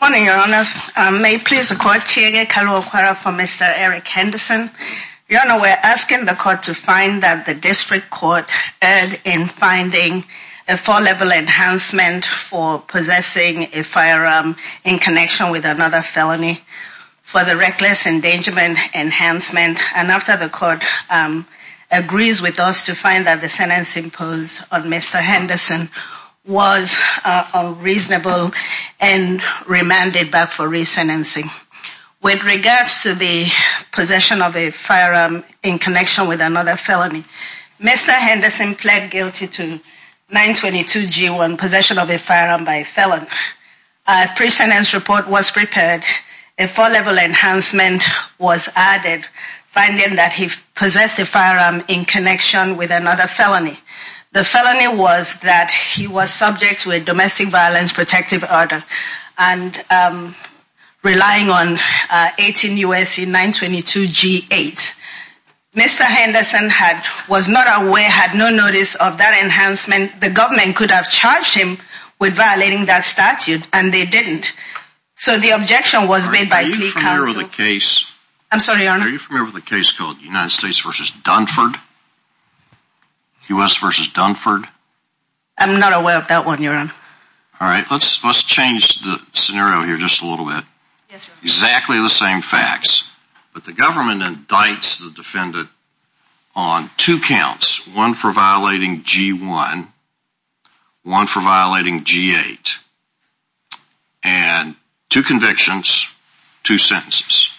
Good morning, Your Honours. May it please the Court, Chiege Karuokwara for Mr. Eric Henderson. Your Honour, we are asking the Court to find that the District Court erred in finding a four-level enhancement for possessing a firearm in connection with another felony for the reckless endangerment enhancement. And after the Court agrees with us to find that the sentencing posed on Mr. Henderson was unreasonable and remanded back for re-sentencing. With regards to the possession of a firearm in connection with another felony, Mr. Henderson pled guilty to 922 G1, possession of a firearm by a felon. A pre-sentence report was prepared. A four-level enhancement was added, finding that he possessed a firearm in connection with another felony. The felony was that he was subject to a domestic violence protective order and relying on 18 U.S.C. 922 G8. Mr. Henderson was not aware, had no notice of that enhancement. The government could have charged him with violating that statute and they didn't. So the objection was made by plea counsel. Are you familiar with a case called United States v. Dunford? U.S. v. Dunford? I'm not aware of that one, Your Honour. Alright, let's change the scenario here just a little bit. Exactly the same facts, but the government indicts the defendant on two counts, one for violating G1, one for violating G8, and two convictions, two sentences.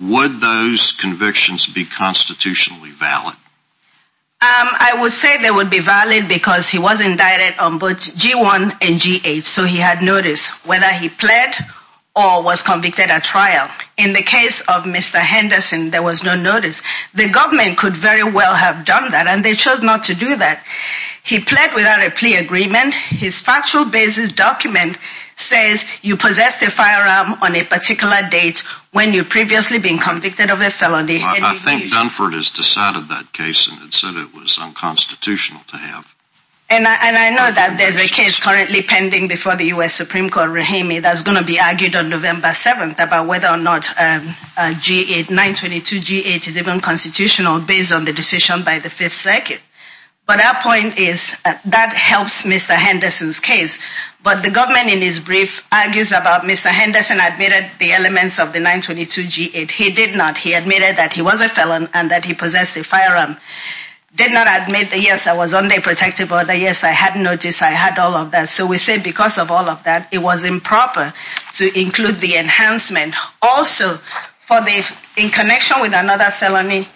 Would those convictions be constitutionally valid? I would say they would be valid because he was indicted on both G1 and G8, so he had notice whether he pled or was convicted at trial. In the case of Mr. Henderson, there was no notice. The government could very well have done that and they chose not to do that. He pled without a plea agreement. His factual basis document says you possessed a firearm on a particular date when you'd previously been convicted of a felony. I think Dunford has decided that case and said it was unconstitutional to have. And I know that there's a case currently pending before the U.S. Supreme Court, Rahimi, that's going to be argued on November 7th about whether or not G8, 922 G8 is even constitutional based on the decision by the Fifth Circuit. But our point is that helps Mr. Henderson's case. But the government in his brief argues about Mr. Henderson admitted the elements of the 922 G8. He did not. He admitted that he was a felon and that he possessed a firearm. Did not admit that, yes, I was on day protective order, yes, I had notice, I had all of that. So we say because of all of that, it was improper to include the enhancement. Also, in connection with another felony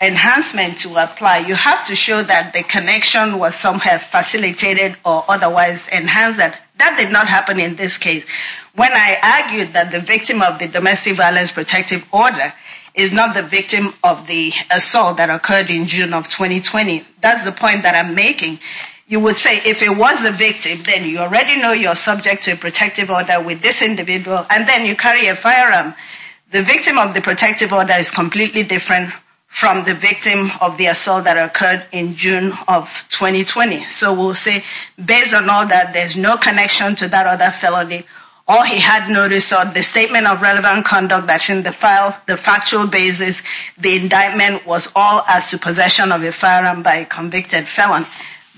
enhancement to apply, you have to show that the connection was somehow facilitated or otherwise enhanced. That did not happen in this case. When I argued that the victim of the domestic violence protective order is not the victim of the assault that occurred in June of 2020, that's the point that I'm making. You would say if it was the victim, then you already know you're subject to a protective order with this individual. And then you carry a firearm. The victim of the protective order is completely different from the victim of the assault that occurred in June of 2020. So we'll say based on all that, there's no connection to that other felony. All he had noticed on the statement of relevant conduct that in the file, the factual basis, the indictment was all as to possession of a firearm by convicted felon.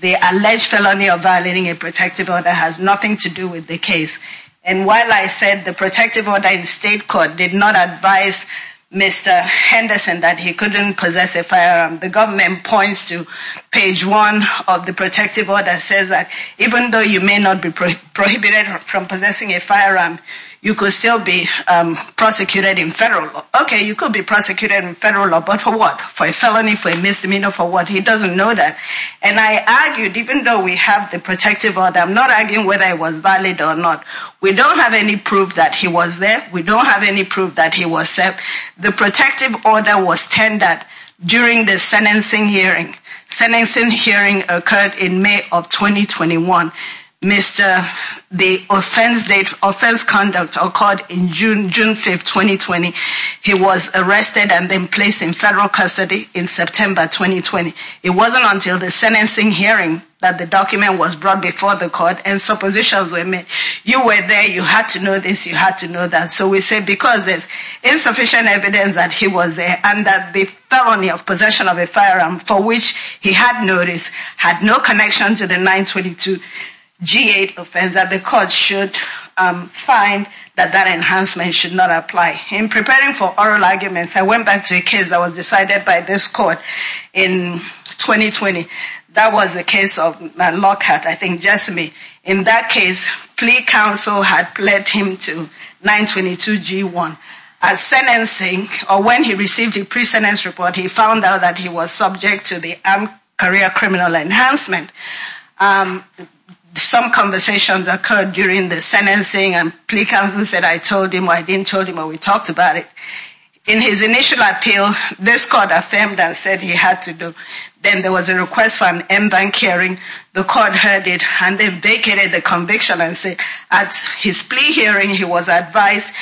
The alleged felony of violating a protective order has nothing to do with the case. And while I said the protective order in state court did not advise Mr. Henderson that he couldn't possess a firearm, the government points to page one of the protective order says that even though you may not be prohibited from possessing a firearm, you could still be prosecuted in federal law. Okay, you could be prosecuted in federal law, but for what? For a felony, for a misdemeanor, for what? He doesn't know that. And I argued even though we have the protective order, I'm not arguing whether it was valid or not. We don't have any proof that he was there. We don't have any proof that he was there. The protective order was tendered during the sentencing hearing. Sentencing hearing occurred in May of 2021. The offense conduct occurred in June 5, 2020. He was arrested and then placed in federal custody in September 2020. It wasn't until the sentencing hearing that the document was brought before the court and suppositions were made. You were there, you had to know this, you had to know that. So we say because there's insufficient evidence that he was there and that the felony of possession of a firearm for which he had noticed had no connection to the 922 G8 offense, that the court should find that that enhancement should not apply. In preparing for oral arguments, I went back to a case that was decided by this court in 2020. That was the case of Lockhart, I think, Jessamy. In that case, plea counsel had led him to 922 G1. At sentencing, or when he received a pre-sentence report, he found out that he was subject to the armed career criminal enhancement. Some conversations occurred during the sentencing and plea counsel said, I told him, I didn't tell him, but we talked about it. In his initial appeal, this court affirmed and said he had to do. Then there was a request for an in-bank hearing. The court heard it and they vacated the conviction and said at his plea hearing, he was advised,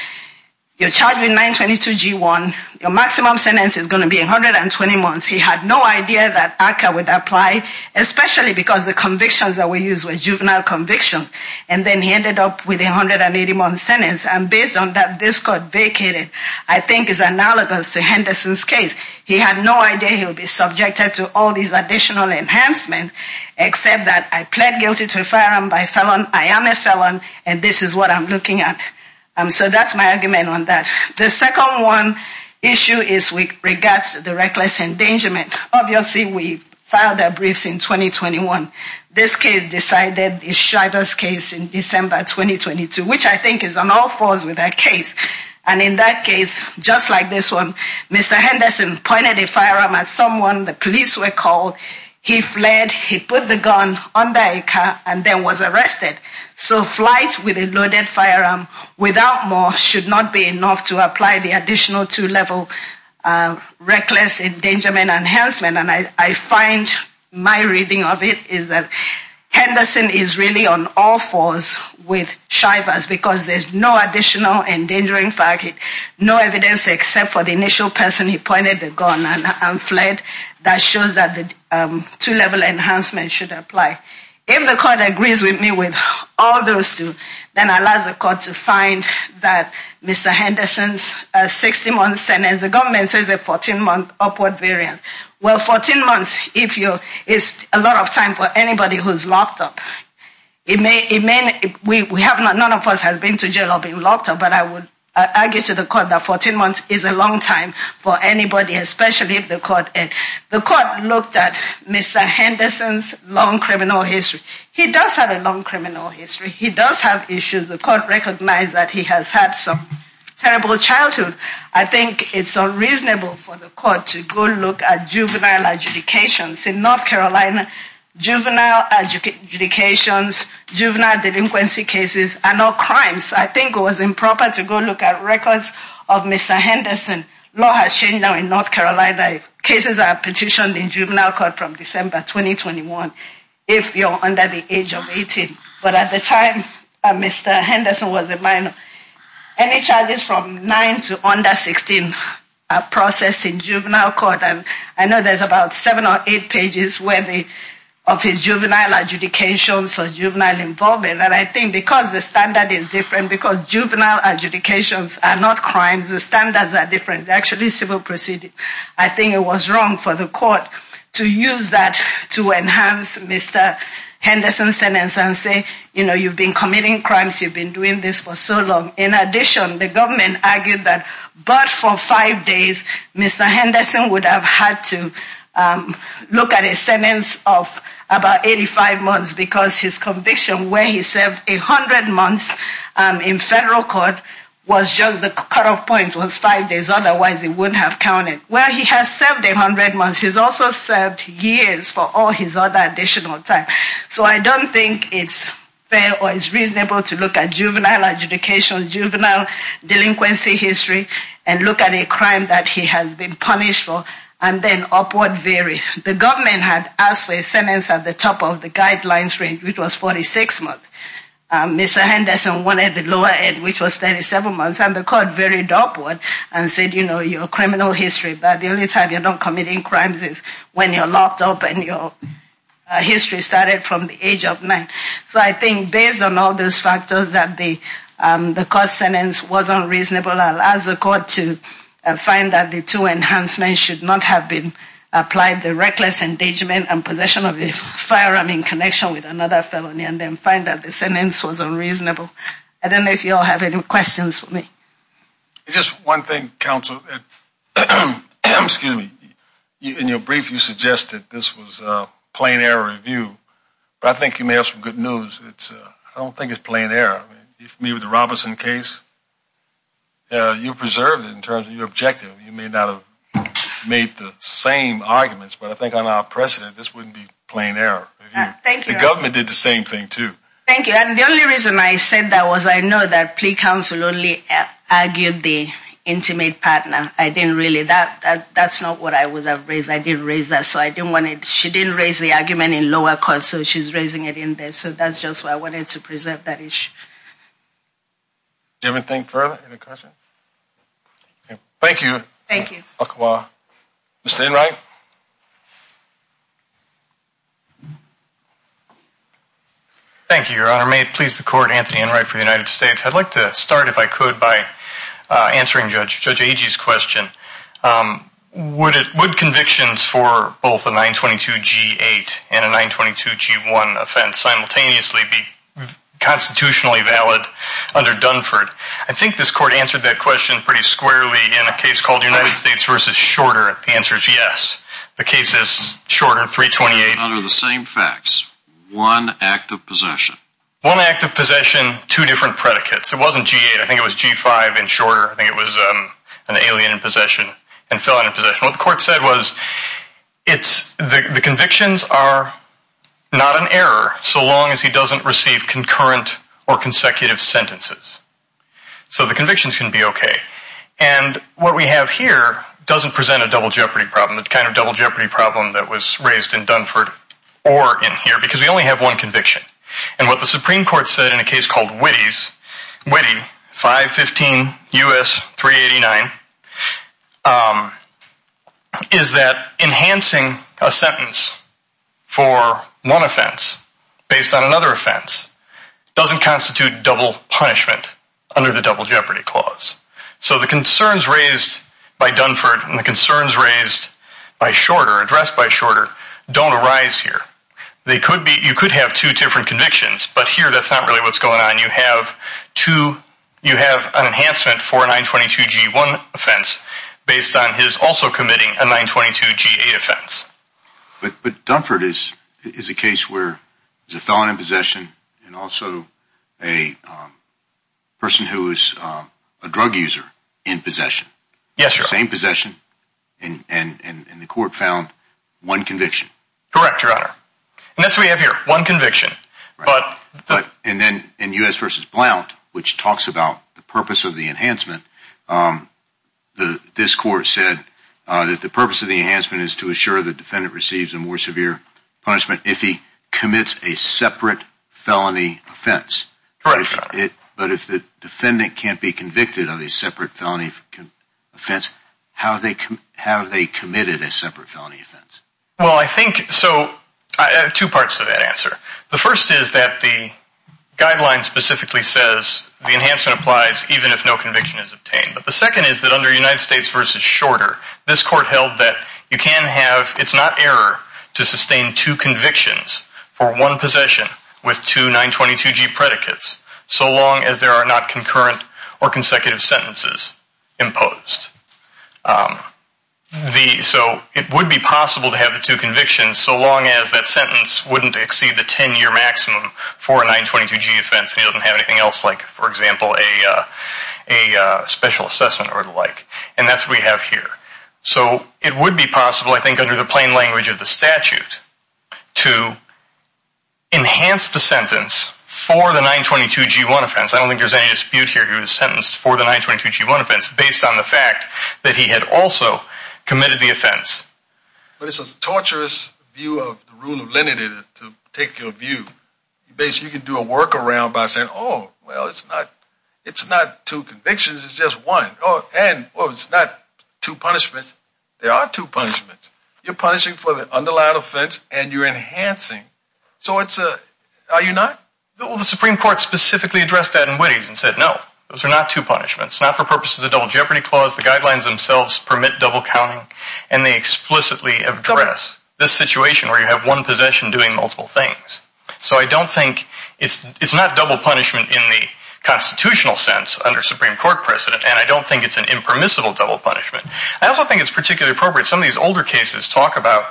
you're charged with 922 G1, your maximum sentence is going to be 120 months. He had no idea that ACCA would apply, especially because the convictions that were used were juvenile convictions. And then he ended up with a 180-month sentence. And based on that, this court vacated. I think it's analogous to Henderson's case. He had no idea he would be subjected to all these additional enhancements, except that I pled guilty to a firearm by felon. I am a felon, and this is what I'm looking at. So that's my argument on that. The second one issue is with regards to the reckless endangerment. Obviously, we filed our briefs in 2021. This case decided is Shriver's case in December 2022, which I think is on all fours with that case. And in that case, just like this one, Mr. Henderson pointed a firearm at someone. The police were called. He fled. He put the gun under a car and then was arrested. So flight with a loaded firearm without more should not be enough to apply the additional two-level reckless endangerment enhancement. And I find my reading of it is that Henderson is really on all fours with Shriver's because there's no additional endangering fact, no evidence except for the initial person he pointed the gun and fled. That shows that the two-level enhancement should apply. If the court agrees with me with all those two, then I'll ask the court to find that Mr. Henderson's 60-month sentence, as the government says, a 14-month upward variance. Well, 14 months is a lot of time for anybody who's locked up. None of us has been to jail or been locked up, but I would argue to the court that 14 months is a long time for anybody, especially if the court looked at Mr. Henderson's long criminal history. He does have a long criminal history. He does have issues. The court recognized that he has had some terrible childhood. I think it's unreasonable for the court to go look at juvenile adjudications. In North Carolina, juvenile adjudications, juvenile delinquency cases are not crimes. I think it was improper to go look at records of Mr. Henderson. Law has changed now in North Carolina. Cases are petitioned in juvenile court from December 2021 if you're under the age of 18. But at the time Mr. Henderson was a minor, any charges from 9 to under 16 are processed in juvenile court. And I know there's about seven or eight pages of his juvenile adjudications or juvenile involvement. And I think because the standard is different, because juvenile adjudications are not crimes, the standards are different. They're actually civil proceedings. I think it was wrong for the court to use that to enhance Mr. Henderson's sentence and say, you know, you've been committing crimes, you've been doing this for so long. In addition, the government argued that but for five days, Mr. Henderson would have had to look at a sentence of about 85 months because his conviction, where he served 100 months in federal court, was just the cutoff point, was five days. Otherwise, he wouldn't have counted. Well, he has served 100 months. He's also served years for all his other additional time. So I don't think it's fair or it's reasonable to look at juvenile adjudications, juvenile delinquency history, and look at a crime that he has been punished for, and then upward vary. The government had asked for a sentence at the top of the guidelines range, which was 46 months. Mr. Henderson wanted the lower end, which was 37 months. And the court varied upward and said, you know, your criminal history, the only time you're not committing crimes is when you're locked up and your history started from the age of nine. So I think based on all those factors that the court sentence was unreasonable, I'll ask the court to find that the two enhancements should not have been applied, the reckless engagement and possession of a firearm in connection with another felony, and then find that the sentence was unreasonable. I don't know if you all have any questions for me. Just one thing, counsel. Excuse me. In your brief, you suggested this was a plain error review. But I think you may have some good news. I don't think it's plain error. Maybe the Robinson case, you preserved it in terms of your objective. You may not have made the same arguments. But I think on our precedent, this wouldn't be plain error. Thank you. The government did the same thing, too. Thank you. And the only reason I said that was I know that plea counsel only argued the intimate partner. I didn't really. That's not what I would have raised. I didn't raise that. So I didn't want it. She didn't raise the argument in lower court, so she's raising it in there. So that's just why I wanted to preserve that issue. Do you have anything further? Any questions? Thank you. Thank you. Mr. Enright. Thank you, Your Honor. May it please the court, Anthony Enright for the United States. I'd like to start, if I could, by answering Judge Agee's question. Would convictions for both a 922G8 and a 922G1 offense simultaneously be constitutionally valid under Dunford? I think this court answered that question pretty squarely in a case called United States versus Shorter. The answer is yes. The case is Shorter 328. Under the same facts, one act of possession. One act of possession, two different predicates. It wasn't G8. I think it was G5 and Shorter. I think it was an alien in possession and felon in possession. What the court said was the convictions are not an error so long as he doesn't receive concurrent or consecutive sentences. So the convictions can be okay. And what we have here doesn't present a double jeopardy problem. The kind of double jeopardy problem that was raised in Dunford or in here because we only have one conviction. And what the Supreme Court said in a case called Witte 515 U.S. 389 is that enhancing a sentence for one offense based on another offense doesn't constitute double punishment under the double jeopardy clause. So the concerns raised by Dunford and the concerns raised by Shorter, addressed by Shorter, don't arise here. You could have two different convictions, but here that's not really what's going on. You have an enhancement for a 922 G1 offense based on his also committing a 922 G8 offense. But Dunford is a case where there's a felon in possession and also a person who is a drug user in possession. Yes, Your Honor. Same possession and the court found one conviction. Correct, Your Honor. And that's what we have here, one conviction. And then in U.S. v. Blount, which talks about the purpose of the enhancement, this court said that the purpose of the enhancement is to assure the defendant receives a more severe punishment if he commits a separate felony offense. Correct, Your Honor. But if the defendant can't be convicted of a separate felony offense, have they committed a separate felony offense? Well, I think, so, I have two parts to that answer. The first is that the guideline specifically says the enhancement applies even if no conviction is obtained. But the second is that under United States v. Shorter, this court held that you can have, it's not error to sustain two convictions for one possession with two 922 G predicates, so long as there are not concurrent or consecutive sentences imposed. So it would be possible to have the two convictions so long as that sentence wouldn't exceed the 10-year maximum for a 922 G offense and he doesn't have anything else like, for example, a special assessment or the like. And that's what we have here. So it would be possible, I think, under the plain language of the statute, to enhance the sentence for the 922 G1 offense. I don't think there's any dispute here he was sentenced for the 922 G1 offense based on the fact that he had also committed the offense. But it's a torturous view of the rule of lenity to take your view. Basically, you can do a workaround by saying, oh, well, it's not two convictions, it's just one. And, well, it's not two punishments. There are two punishments. You're punishing for the underlined offense and you're enhancing. So it's a, are you not? Well, the Supreme Court specifically addressed that in Witte and said, no, those are not two punishments. It's not for purposes of the Double Jeopardy Clause. The guidelines themselves permit double counting. And they explicitly address this situation where you have one possession doing multiple things. So I don't think, it's not double punishment in the constitutional sense under Supreme Court precedent. And I don't think it's an impermissible double punishment. I also think it's particularly appropriate. Some of these older cases talk about,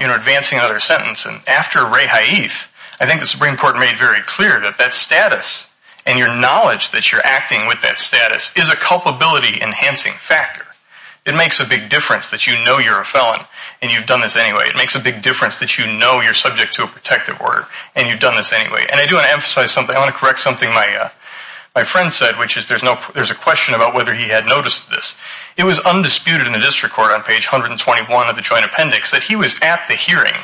you know, advancing another sentence. And after Ray Haif, I think the Supreme Court made very clear that that status and your knowledge that you're acting with that status is a culpability enhancing factor. It makes a big difference that you know you're a felon and you've done this anyway. It makes a big difference that you know you're subject to a protective order and you've done this anyway. And I do want to emphasize something. I want to correct something my friend said, which is there's a question about whether he had noticed this. It was undisputed in the district court on page 121 of the Joint Appendix that he was at the hearing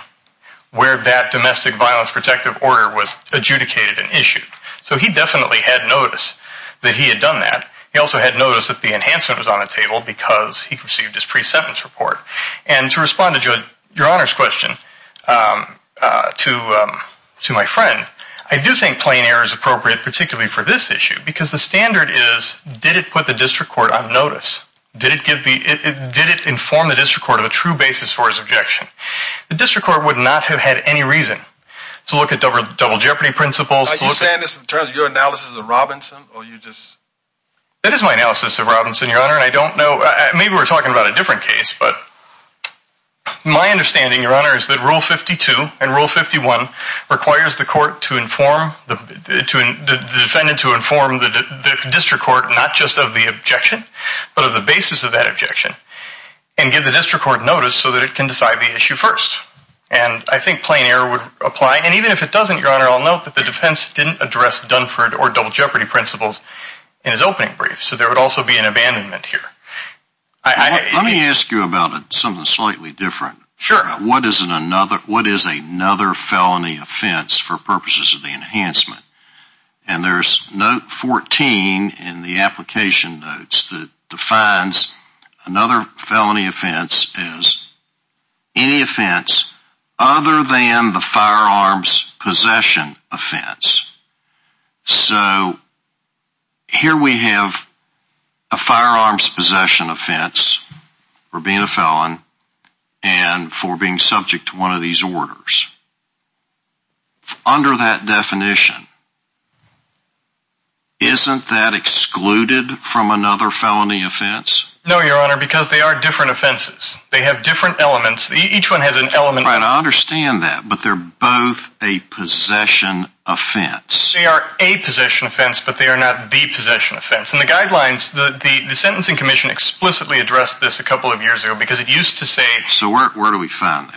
where that domestic violence protective order was adjudicated and issued. So he definitely had noticed that he had done that. He also had noticed that the enhancement was on the table because he received his pre-sentence report. And to respond to your Honor's question, to my friend, I do think plain error is appropriate, particularly for this issue because the standard is, did it put the district court on notice? Did it inform the district court of a true basis for his objection? The district court would not have had any reason to look at double jeopardy principles. Are you saying this in terms of your analysis of Robinson? That is my analysis of Robinson, Your Honor. And I don't know, maybe we're talking about a different case. But my understanding, Your Honor, is that Rule 52 and Rule 51 requires the court to inform, the defendant to inform the district court not just of the objection, but of the basis of that objection and give the district court notice so that it can decide the issue first. And I think plain error would apply. And even if it doesn't, Your Honor, I'll note that the defense didn't address Dunford or double jeopardy principles in his opening brief. So there would also be an abandonment here. Let me ask you about something slightly different. Sure. What is another felony offense for purposes of the enhancement? And there's note 14 in the application notes that defines another felony offense as any offense other than the firearms possession offense. So here we have a firearms possession offense for being a felon and for being subject to one of these orders. Under that definition, isn't that excluded from another felony offense? No, Your Honor, because they are different offenses. They have different elements. Each one has an element. Right, I understand that. But they're both a possession offense. They are a possession offense, but they are not the possession offense. And the guidelines, the Sentencing Commission explicitly addressed this a couple of years ago because it used to say... So where do we find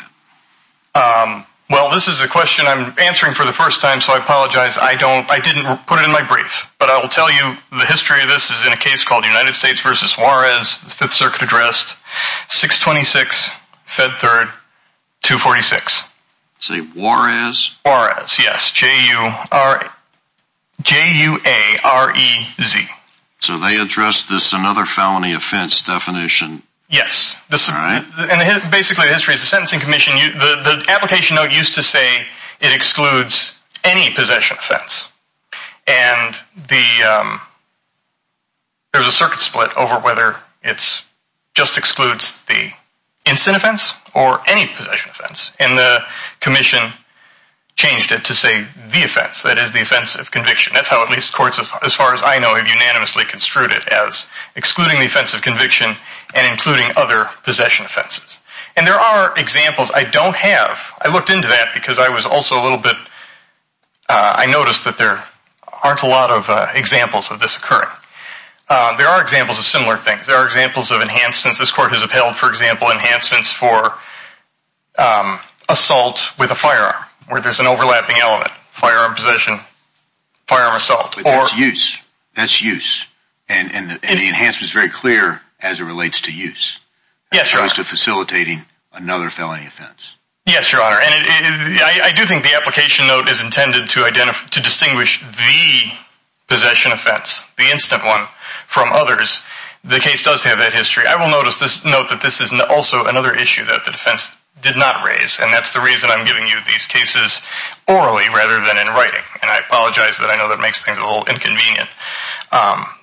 that? Well, this is a question I'm answering for the first time, so I apologize. I didn't put it in my brief. But I will tell you the history of this is in a case called United States v. Juarez, 5th Circuit addressed, 626 Fed 3rd, 246. Say Juarez? Juarez, yes. J-U-A-R-E-Z. So they addressed this another felony offense definition. Yes. Basically, the history is the Sentencing Commission, the application note used to say it excludes any possession offense. And there was a circuit split over whether it just excludes the instant offense or any possession offense. And the Commission changed it to say the offense, that is the offense of conviction. That's how at least courts, as far as I know, have unanimously construed it as excluding the offense of conviction and including other possession offenses. And there are examples. I don't have. I looked into that because I was also a little bit... I noticed that there aren't a lot of examples of this occurring. There are examples of similar things. There are examples of enhancements. This court has upheld, for example, enhancements for assault with a firearm where there's an overlapping element. Firearm possession. Firearm assault. That's use. That's use. And the enhancement is very clear as it relates to use. Yes, Your Honor. As opposed to facilitating another felony offense. Yes, Your Honor. And I do think the application note is intended to distinguish the possession offense, the instant one, from others. The case does have that history. I will note that this is also another issue that the defense did not raise. And that's the reason I'm giving you these cases orally rather than in writing. And I apologize that I know that makes things a little inconvenient.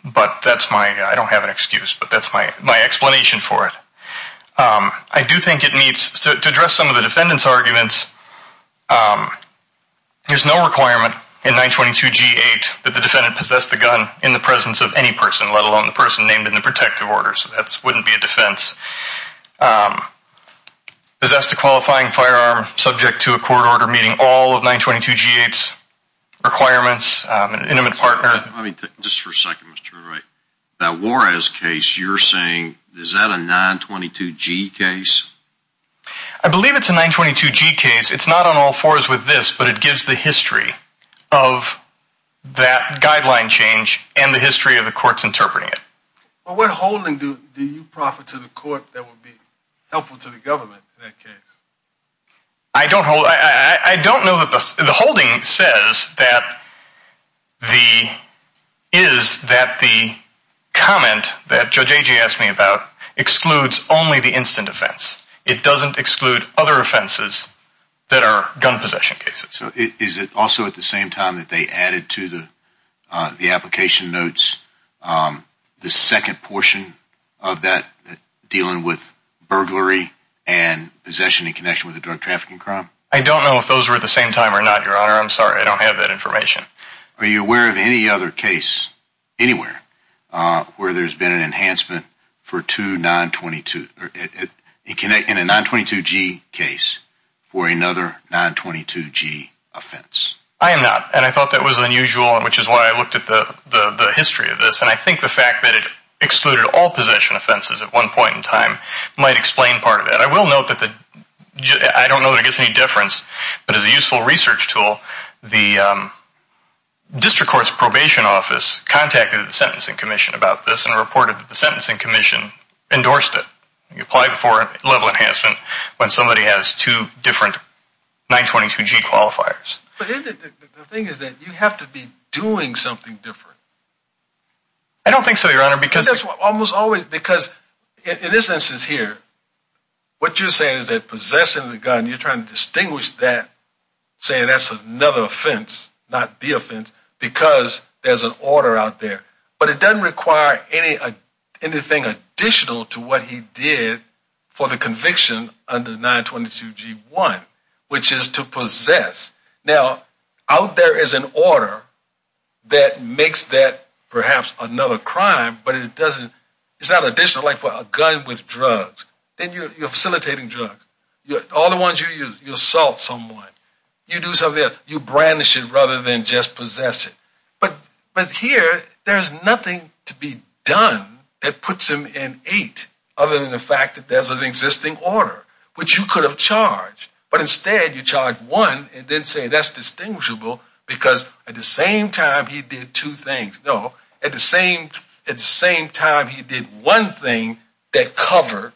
But that's my... I don't have an excuse, but that's my explanation for it. I do think it meets... To address some of the defendant's arguments, there's no requirement in 922G8 that the defendant possess the gun in the presence of any person, let alone the person named in the protective order. So that wouldn't be a defense. Possessed a qualifying firearm subject to a court order meeting all of 922G8's requirements, an intimate partner. Just for a second, Mr. Murray. That Juarez case you're saying, is that a 922G case? I believe it's a 922G case. It's not on all fours with this, but it gives the history of that guideline change and the history of the courts interpreting it. What holding do you proffer to the court that would be helpful to the government in that case? I don't hold... I don't know that the... The holding says that the... Is that the comment that Judge Agee asked me about excludes only the instant offense. It doesn't exclude other offenses that are gun possession cases. So is it also at the same time that they added to the application notes the second portion of that dealing with burglary and possession in connection with a drug trafficking crime? I don't know if those were at the same time or not, Your Honor. I'm sorry. I don't have that information. Are you aware of any other case anywhere where there's been an enhancement for two 922... In a 922G case for another 922G offense? I am not, and I thought that was unusual, which is why I looked at the history of this. And I think the fact that it excluded all possession offenses at one point in time might explain part of it. But I will note that the... I don't know that it makes any difference, but as a useful research tool, the district court's probation office contacted the Sentencing Commission about this and reported that the Sentencing Commission endorsed it. You apply for a level enhancement when somebody has two different 922G qualifiers. But isn't it... The thing is that you have to be doing something different. I don't think so, Your Honor, because... In this instance here, what you're saying is that possessing the gun, you're trying to distinguish that, saying that's another offense, not the offense, because there's an order out there. But it doesn't require anything additional to what he did for the conviction under 922G1, which is to possess. Now, out there is an order that makes that perhaps another crime, but it doesn't... It's not additional, like for a gun with drugs. Then you're facilitating drugs. All the ones you use, you assault someone. You do something else. You brandish it rather than just possess it. But here, there's nothing to be done that puts him in eight other than the fact that there's an existing order, which you could have charged. But instead, you charge one and then say that's distinguishable because at the same time, he did two things. No, at the same time, he did one thing that covered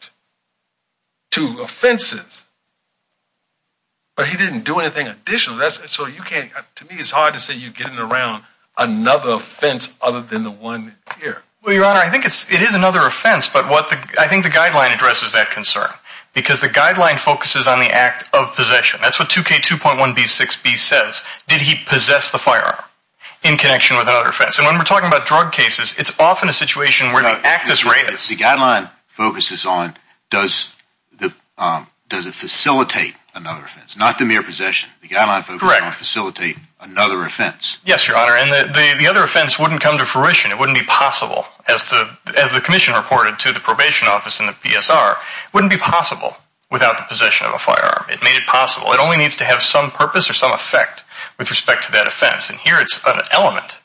two offenses. But he didn't do anything additional. So you can't... To me, it's hard to say you're getting around another offense other than the one here. Well, Your Honor, I think it is another offense, but I think the guideline addresses that concern. Because the guideline focuses on the act of possession. That's what 2K2.1b6b says. Did he possess the firearm in connection with another offense? And when we're talking about drug cases, it's often a situation where the act is raised. The guideline focuses on does it facilitate another offense, not the mere possession. The guideline focuses on facilitate another offense. Yes, Your Honor. And the other offense wouldn't come to fruition. It wouldn't be possible, as the commission reported to the probation office and the PSR, wouldn't be possible without the possession of a firearm. It made it possible. It only needs to have some purpose or some effect with respect to that offense. And here it's an element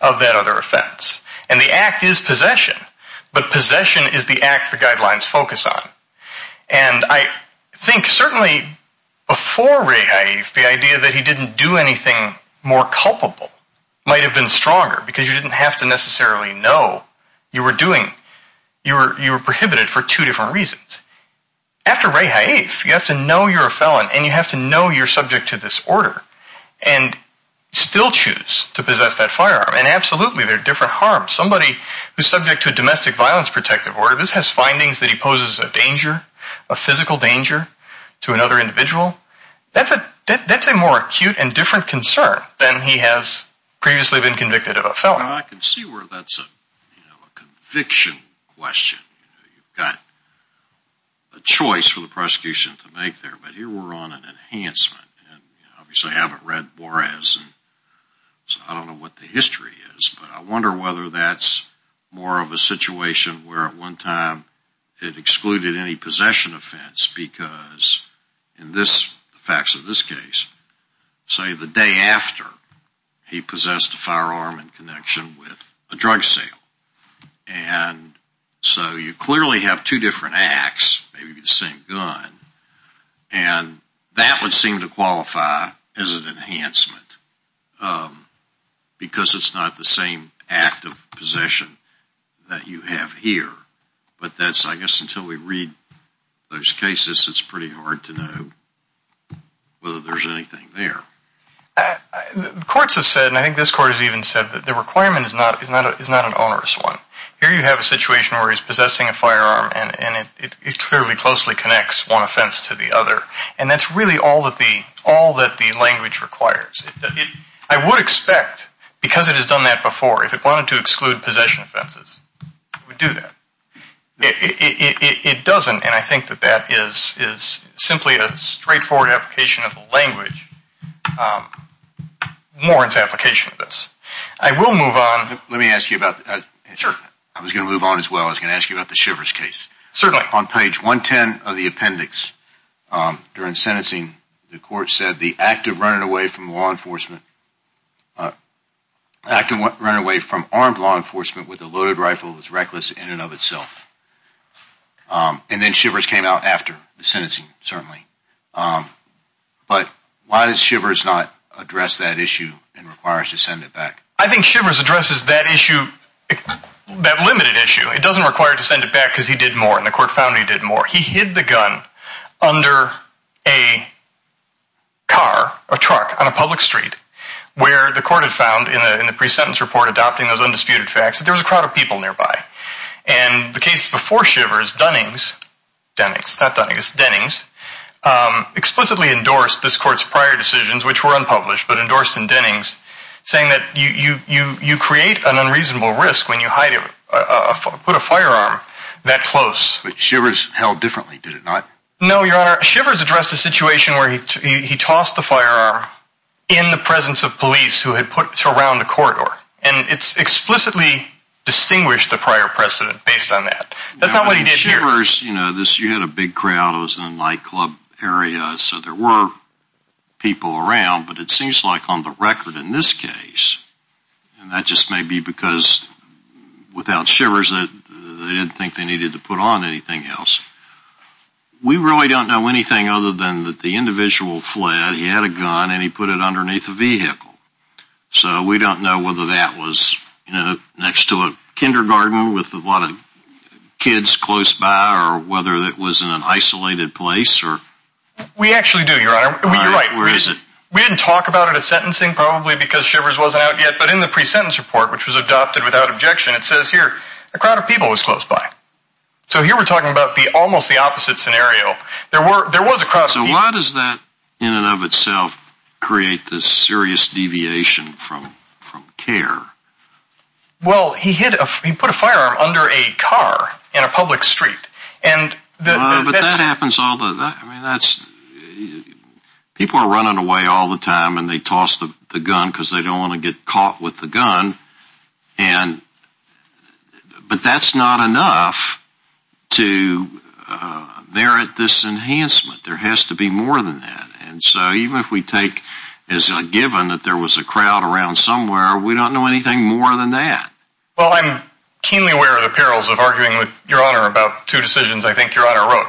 of that other offense. And the act is possession, but possession is the act the guidelines focus on. And I think certainly before Rahaif, the idea that he didn't do anything more culpable might have been stronger because you didn't have to necessarily know you were doing, you were prohibited for two different reasons. After Rahaif, you have to know you're a felon and you have to know you're subject to this order and still choose to possess that firearm. And absolutely, there are different harms. Somebody who's subject to a domestic violence protective order, this has findings that he poses a danger, a physical danger to another individual. That's a more acute and different concern than he has previously been convicted of a felon. Well, I can see where that's a conviction question. You've got a choice for the prosecution to make there, but here we're on an enhancement. Obviously, I haven't read Juarez, so I don't know what the history is. But I wonder whether that's more of a situation where at one time it excluded any possession offense because in the facts of this case, say the day after, he possessed a firearm in connection with a drug sale. So you clearly have two different acts, maybe the same gun, and that would seem to qualify as an enhancement because it's not the same act of possession that you have here. But I guess until we read those cases, it's pretty hard to know whether there's anything there. The courts have said, and I think this court has even said, that the requirement is not an onerous one. Here you have a situation where he's possessing a firearm, and it clearly closely connects one offense to the other. And that's really all that the language requires. I would expect, because it has done that before, if it wanted to exclude possession offenses, it would do that. It doesn't, and I think that that is simply a straightforward application of the language, Warren's application of this. I will move on. Let me ask you about, I was going to move on as well. I was going to ask you about the Shivers case. Certainly. On page 110 of the appendix, during sentencing, the court said the act of running away from armed law enforcement with a loaded rifle was reckless in and of itself. And then Shivers came out after the sentencing, certainly. But why does Shivers not address that issue and requires to send it back? I think Shivers addresses that issue, that limited issue. It doesn't require to send it back because he did more, and the court found he did more. He hid the gun under a car, a truck, on a public street, where the court had found in the pre-sentence report adopting those undisputed facts that there was a crowd of people nearby. And the case before Shivers, Dennings, explicitly endorsed this court's prior decisions, which were unpublished, but endorsed in Dennings, saying that you create an unreasonable risk when you put a firearm that close. But Shivers held differently, did it not? No, Your Honor. Shivers addressed a situation where he tossed the firearm in the presence of police who had put it around the corridor. And it's explicitly distinguished the prior precedent based on that. That's not what he did here. Shivers, you know, you had a big crowd. It was in a nightclub area, so there were people around. But it seems like on the record in this case, and that just may be because without Shivers, they didn't think they needed to put on anything else. We really don't know anything other than that the individual fled, he had a gun, and he put it underneath a vehicle. So we don't know whether that was, you know, next to a kindergarten with a lot of kids close by, or whether it was in an isolated place. We actually do, Your Honor. You're right. Where is it? We didn't talk about it at sentencing, probably because Shivers wasn't out yet. But in the pre-sentence report, which was adopted without objection, it says here, a crowd of people was close by. So here we're talking about almost the opposite scenario. So why does that in and of itself create this serious deviation from care? Well, he put a firearm under a car in a public street. But that happens all the time. People are running away all the time, and they toss the gun because they don't want to get caught with the gun. But that's not enough to merit this enhancement. There has to be more than that. And so even if we take as a given that there was a crowd around somewhere, we don't know anything more than that. Well, I'm keenly aware of the perils of arguing with Your Honor about two decisions I think Your Honor wrote.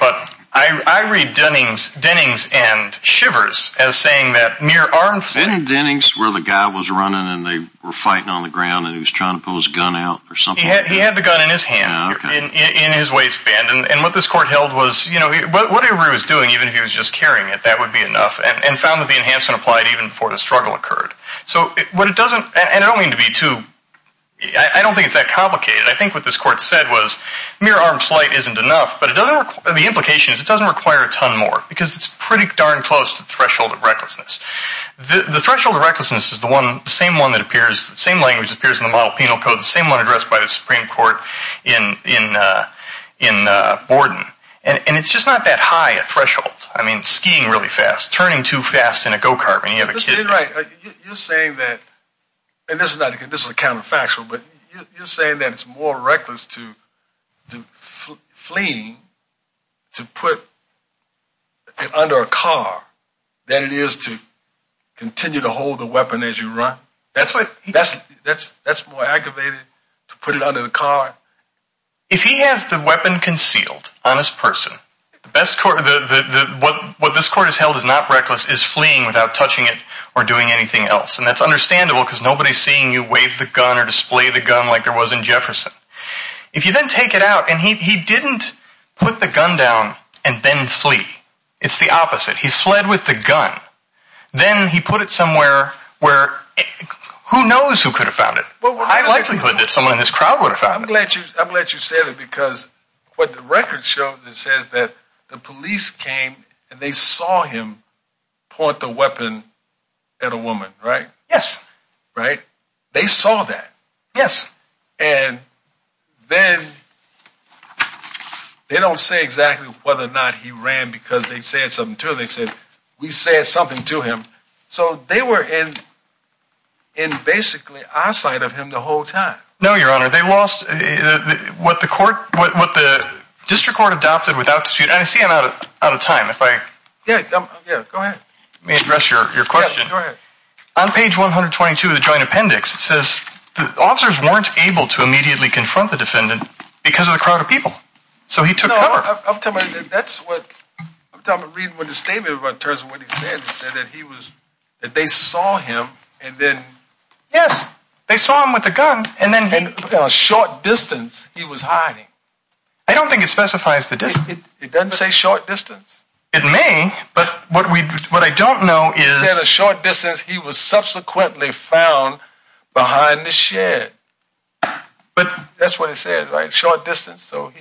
But I read Dennings and Shivers as saying that mere arms... Didn't Dennings, where the guy was running and they were fighting on the ground and he was trying to pull his gun out or something? He had the gun in his hand in his waistband. And what this court held was whatever he was doing, even if he was just carrying it, that would be enough, and found that the enhancement applied even before the struggle occurred. So what it doesn't, and I don't mean to be too, I don't think it's that complicated. I think what this court said was mere arms flight isn't enough, but the implication is it doesn't require a ton more because it's pretty darn close to the threshold of recklessness. The threshold of recklessness is the same one that appears, the same language that appears in the model penal code, the same one addressed by the Supreme Court in Borden. And it's just not that high a threshold. I mean skiing really fast, turning too fast in a go-kart when you have a kid... ...continue to hold the weapon as you run. That's more aggravated to put it under the car. If he has the weapon concealed on his person, what this court has held is not reckless, it's fleeing without touching it or doing anything else. And that's understandable because nobody's seeing you wave the gun or display the gun like there was in Jefferson. If you then take it out, and he didn't put the gun down and then flee. It's the opposite. He fled with the gun. Then he put it somewhere where who knows who could have found it. High likelihood that someone in his crowd would have found it. I'm glad you said it because what the record shows is that the police came and they saw him point the weapon at a woman, right? Yes. Right? They saw that? Yes. And then they don't say exactly whether or not he ran because they said something to him. They said, we said something to him. So they were in basically our sight of him the whole time. No, Your Honor. They lost what the district court adopted without dispute. I see I'm out of time. Go ahead. Let me address your question. Go ahead. On page 122 of the joint appendix, it says the officers weren't able to immediately confront the defendant because of the crowd of people. So he took cover. I'm telling you, that's what I'm talking about. Read what the statement about terms of what he said. He said that he was that they saw him. And then, yes, they saw him with a gun. And then a short distance he was hiding. I don't think it specifies the distance. It doesn't say short distance. It may. But what we what I don't know is. In a short distance, he was subsequently found behind the shed. But that's what it says, right? Short distance. So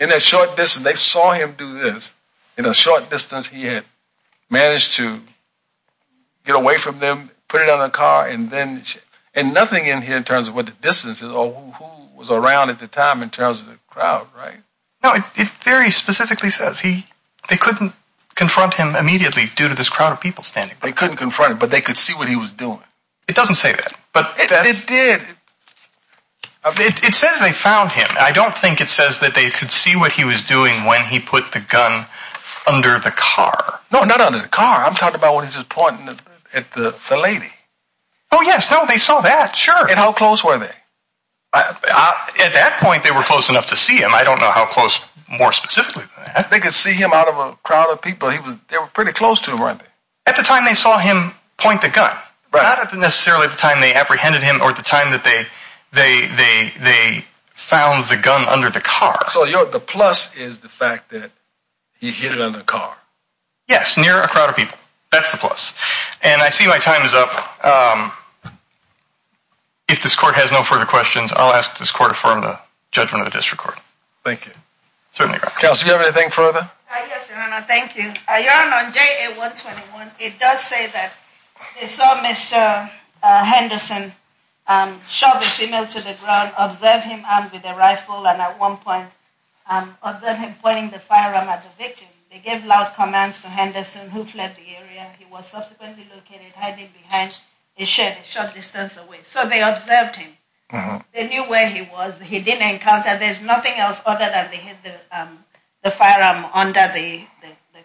in a short distance, they saw him do this in a short distance. He had managed to get away from them, put it on a car. And then and nothing in here in terms of what the distance is or who was around at the time in terms of the crowd. Right. No, it very specifically says he they couldn't confront him immediately due to this crowd of people standing. They couldn't confront him, but they could see what he was doing. It doesn't say that, but it did. It says they found him. I don't think it says that they could see what he was doing when he put the gun under the car. No, not under the car. I'm talking about what is important at the lady. Oh, yes. No, they saw that. Sure. And how close were they at that point? They were close enough to see him. I don't know how close more specifically. They could see him out of a crowd of people. He was pretty close to him. At the time they saw him point the gun, but not necessarily at the time they apprehended him or at the time that they they they they found the gun under the car. So the plus is the fact that he hit another car. Yes. Near a crowd of people. That's the plus. And I see my time is up. If this court has no further questions, I'll ask this court to affirm the judgment of the district court. Thank you. Certainly. Kelsey, you have anything further? Yes. Thank you. Your Honor, on JA 121, it does say that they saw Mr. Henderson shove a female to the ground, observe him armed with a rifle. And at one point, observing him pointing the firearm at the victim, they gave loud commands to Henderson, who fled the area. He was subsequently located hiding behind his shed a short distance away. So they observed him. They knew where he was. He didn't encounter. There's nothing else other than the firearm under the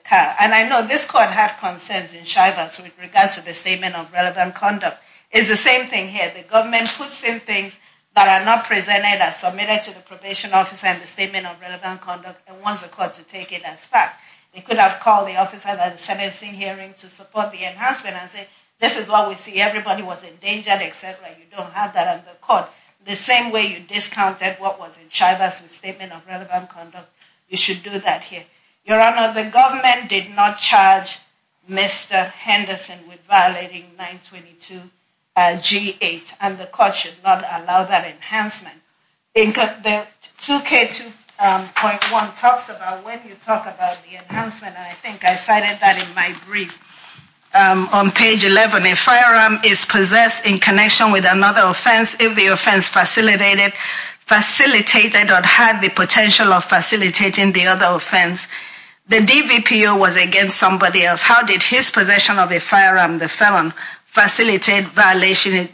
car. And I know this court had concerns in Chivas with regards to the statement of relevant conduct. It's the same thing here. The government puts in things that are not presented as submitted to the probation officer and the statement of relevant conduct and wants the court to take it as fact. They could have called the officer at the sentencing hearing to support the enhancement and say, this is what we see. Everybody was endangered, etc. You don't have that on the court. The same way you discounted what was in Chivas' statement of relevant conduct, you should do that here. Your Honor, the government did not charge Mr. Henderson with violating 922 G8. And the court should not allow that enhancement. The 2K2.1 talks about when you talk about the enhancement. And I think I cited that in my brief. On page 11, a firearm is possessed in connection with another offense if the offense facilitated or had the potential of facilitating the other offense. The DVPO was against somebody else. How did his possession of a firearm, the felon, facilitate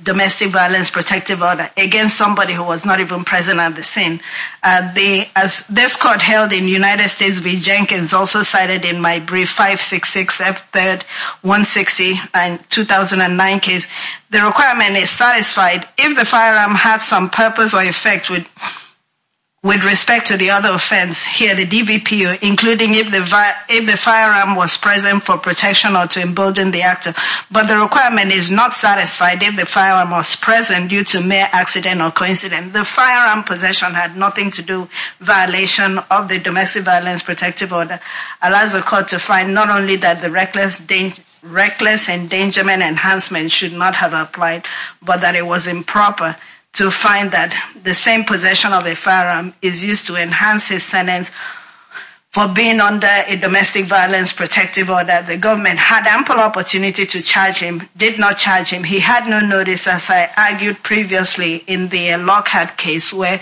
domestic violence protective order against somebody who was not even present at the scene? As this court held in United States v. Jenkins, also cited in my brief 566F3-160-2009 case, the requirement is satisfied if the firearm had some purpose or effect with respect to the other offense. Here, the DVPO, including if the firearm was present for protection or to embolden the actor. But the requirement is not satisfied if the firearm was present due to mere accident or coincidence. The firearm possession had nothing to do violation of the domestic violence protective order. Allows the court to find not only that the reckless endangerment enhancement should not have applied, but that it was improper to find that the same possession of a firearm is used to enhance his sentence for being under a domestic violence protective order. The government had ample opportunity to charge him, did not charge him. He had no notice, as I argued previously in the Lockhart case, where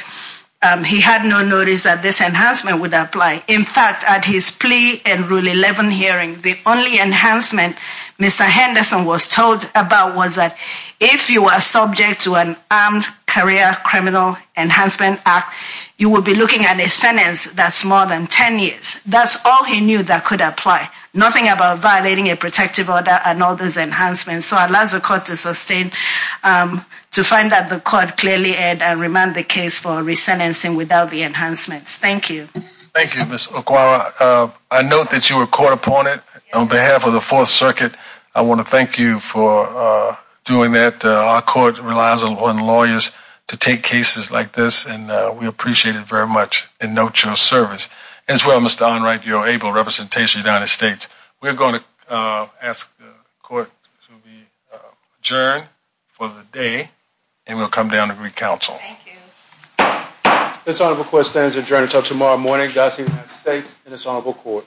he had no notice that this enhancement would apply. In fact, at his plea and Rule 11 hearing, the only enhancement Mr. Henderson was told about was that if you are subject to an Armed Career Criminal Enhancement Act, you will be looking at a sentence that's more than 10 years. That's all he knew that could apply. Nothing about violating a protective order and all those enhancements. So it allows the court to find that the court clearly had remanded the case for resentencing without the enhancements. Thank you. Thank you, Ms. Okwawa. I note that you were caught upon it on behalf of the Fourth Circuit. I want to thank you for doing that. Our court relies on lawyers to take cases like this, and we appreciate it very much and note your service. As well, Mr. Unright, your able representation of the United States. We're going to ask the court to adjourn for the day, and we'll come down to recouncil. Thank you. This honorable court stands adjourned until tomorrow morning. Godspeed to the United States and this honorable court.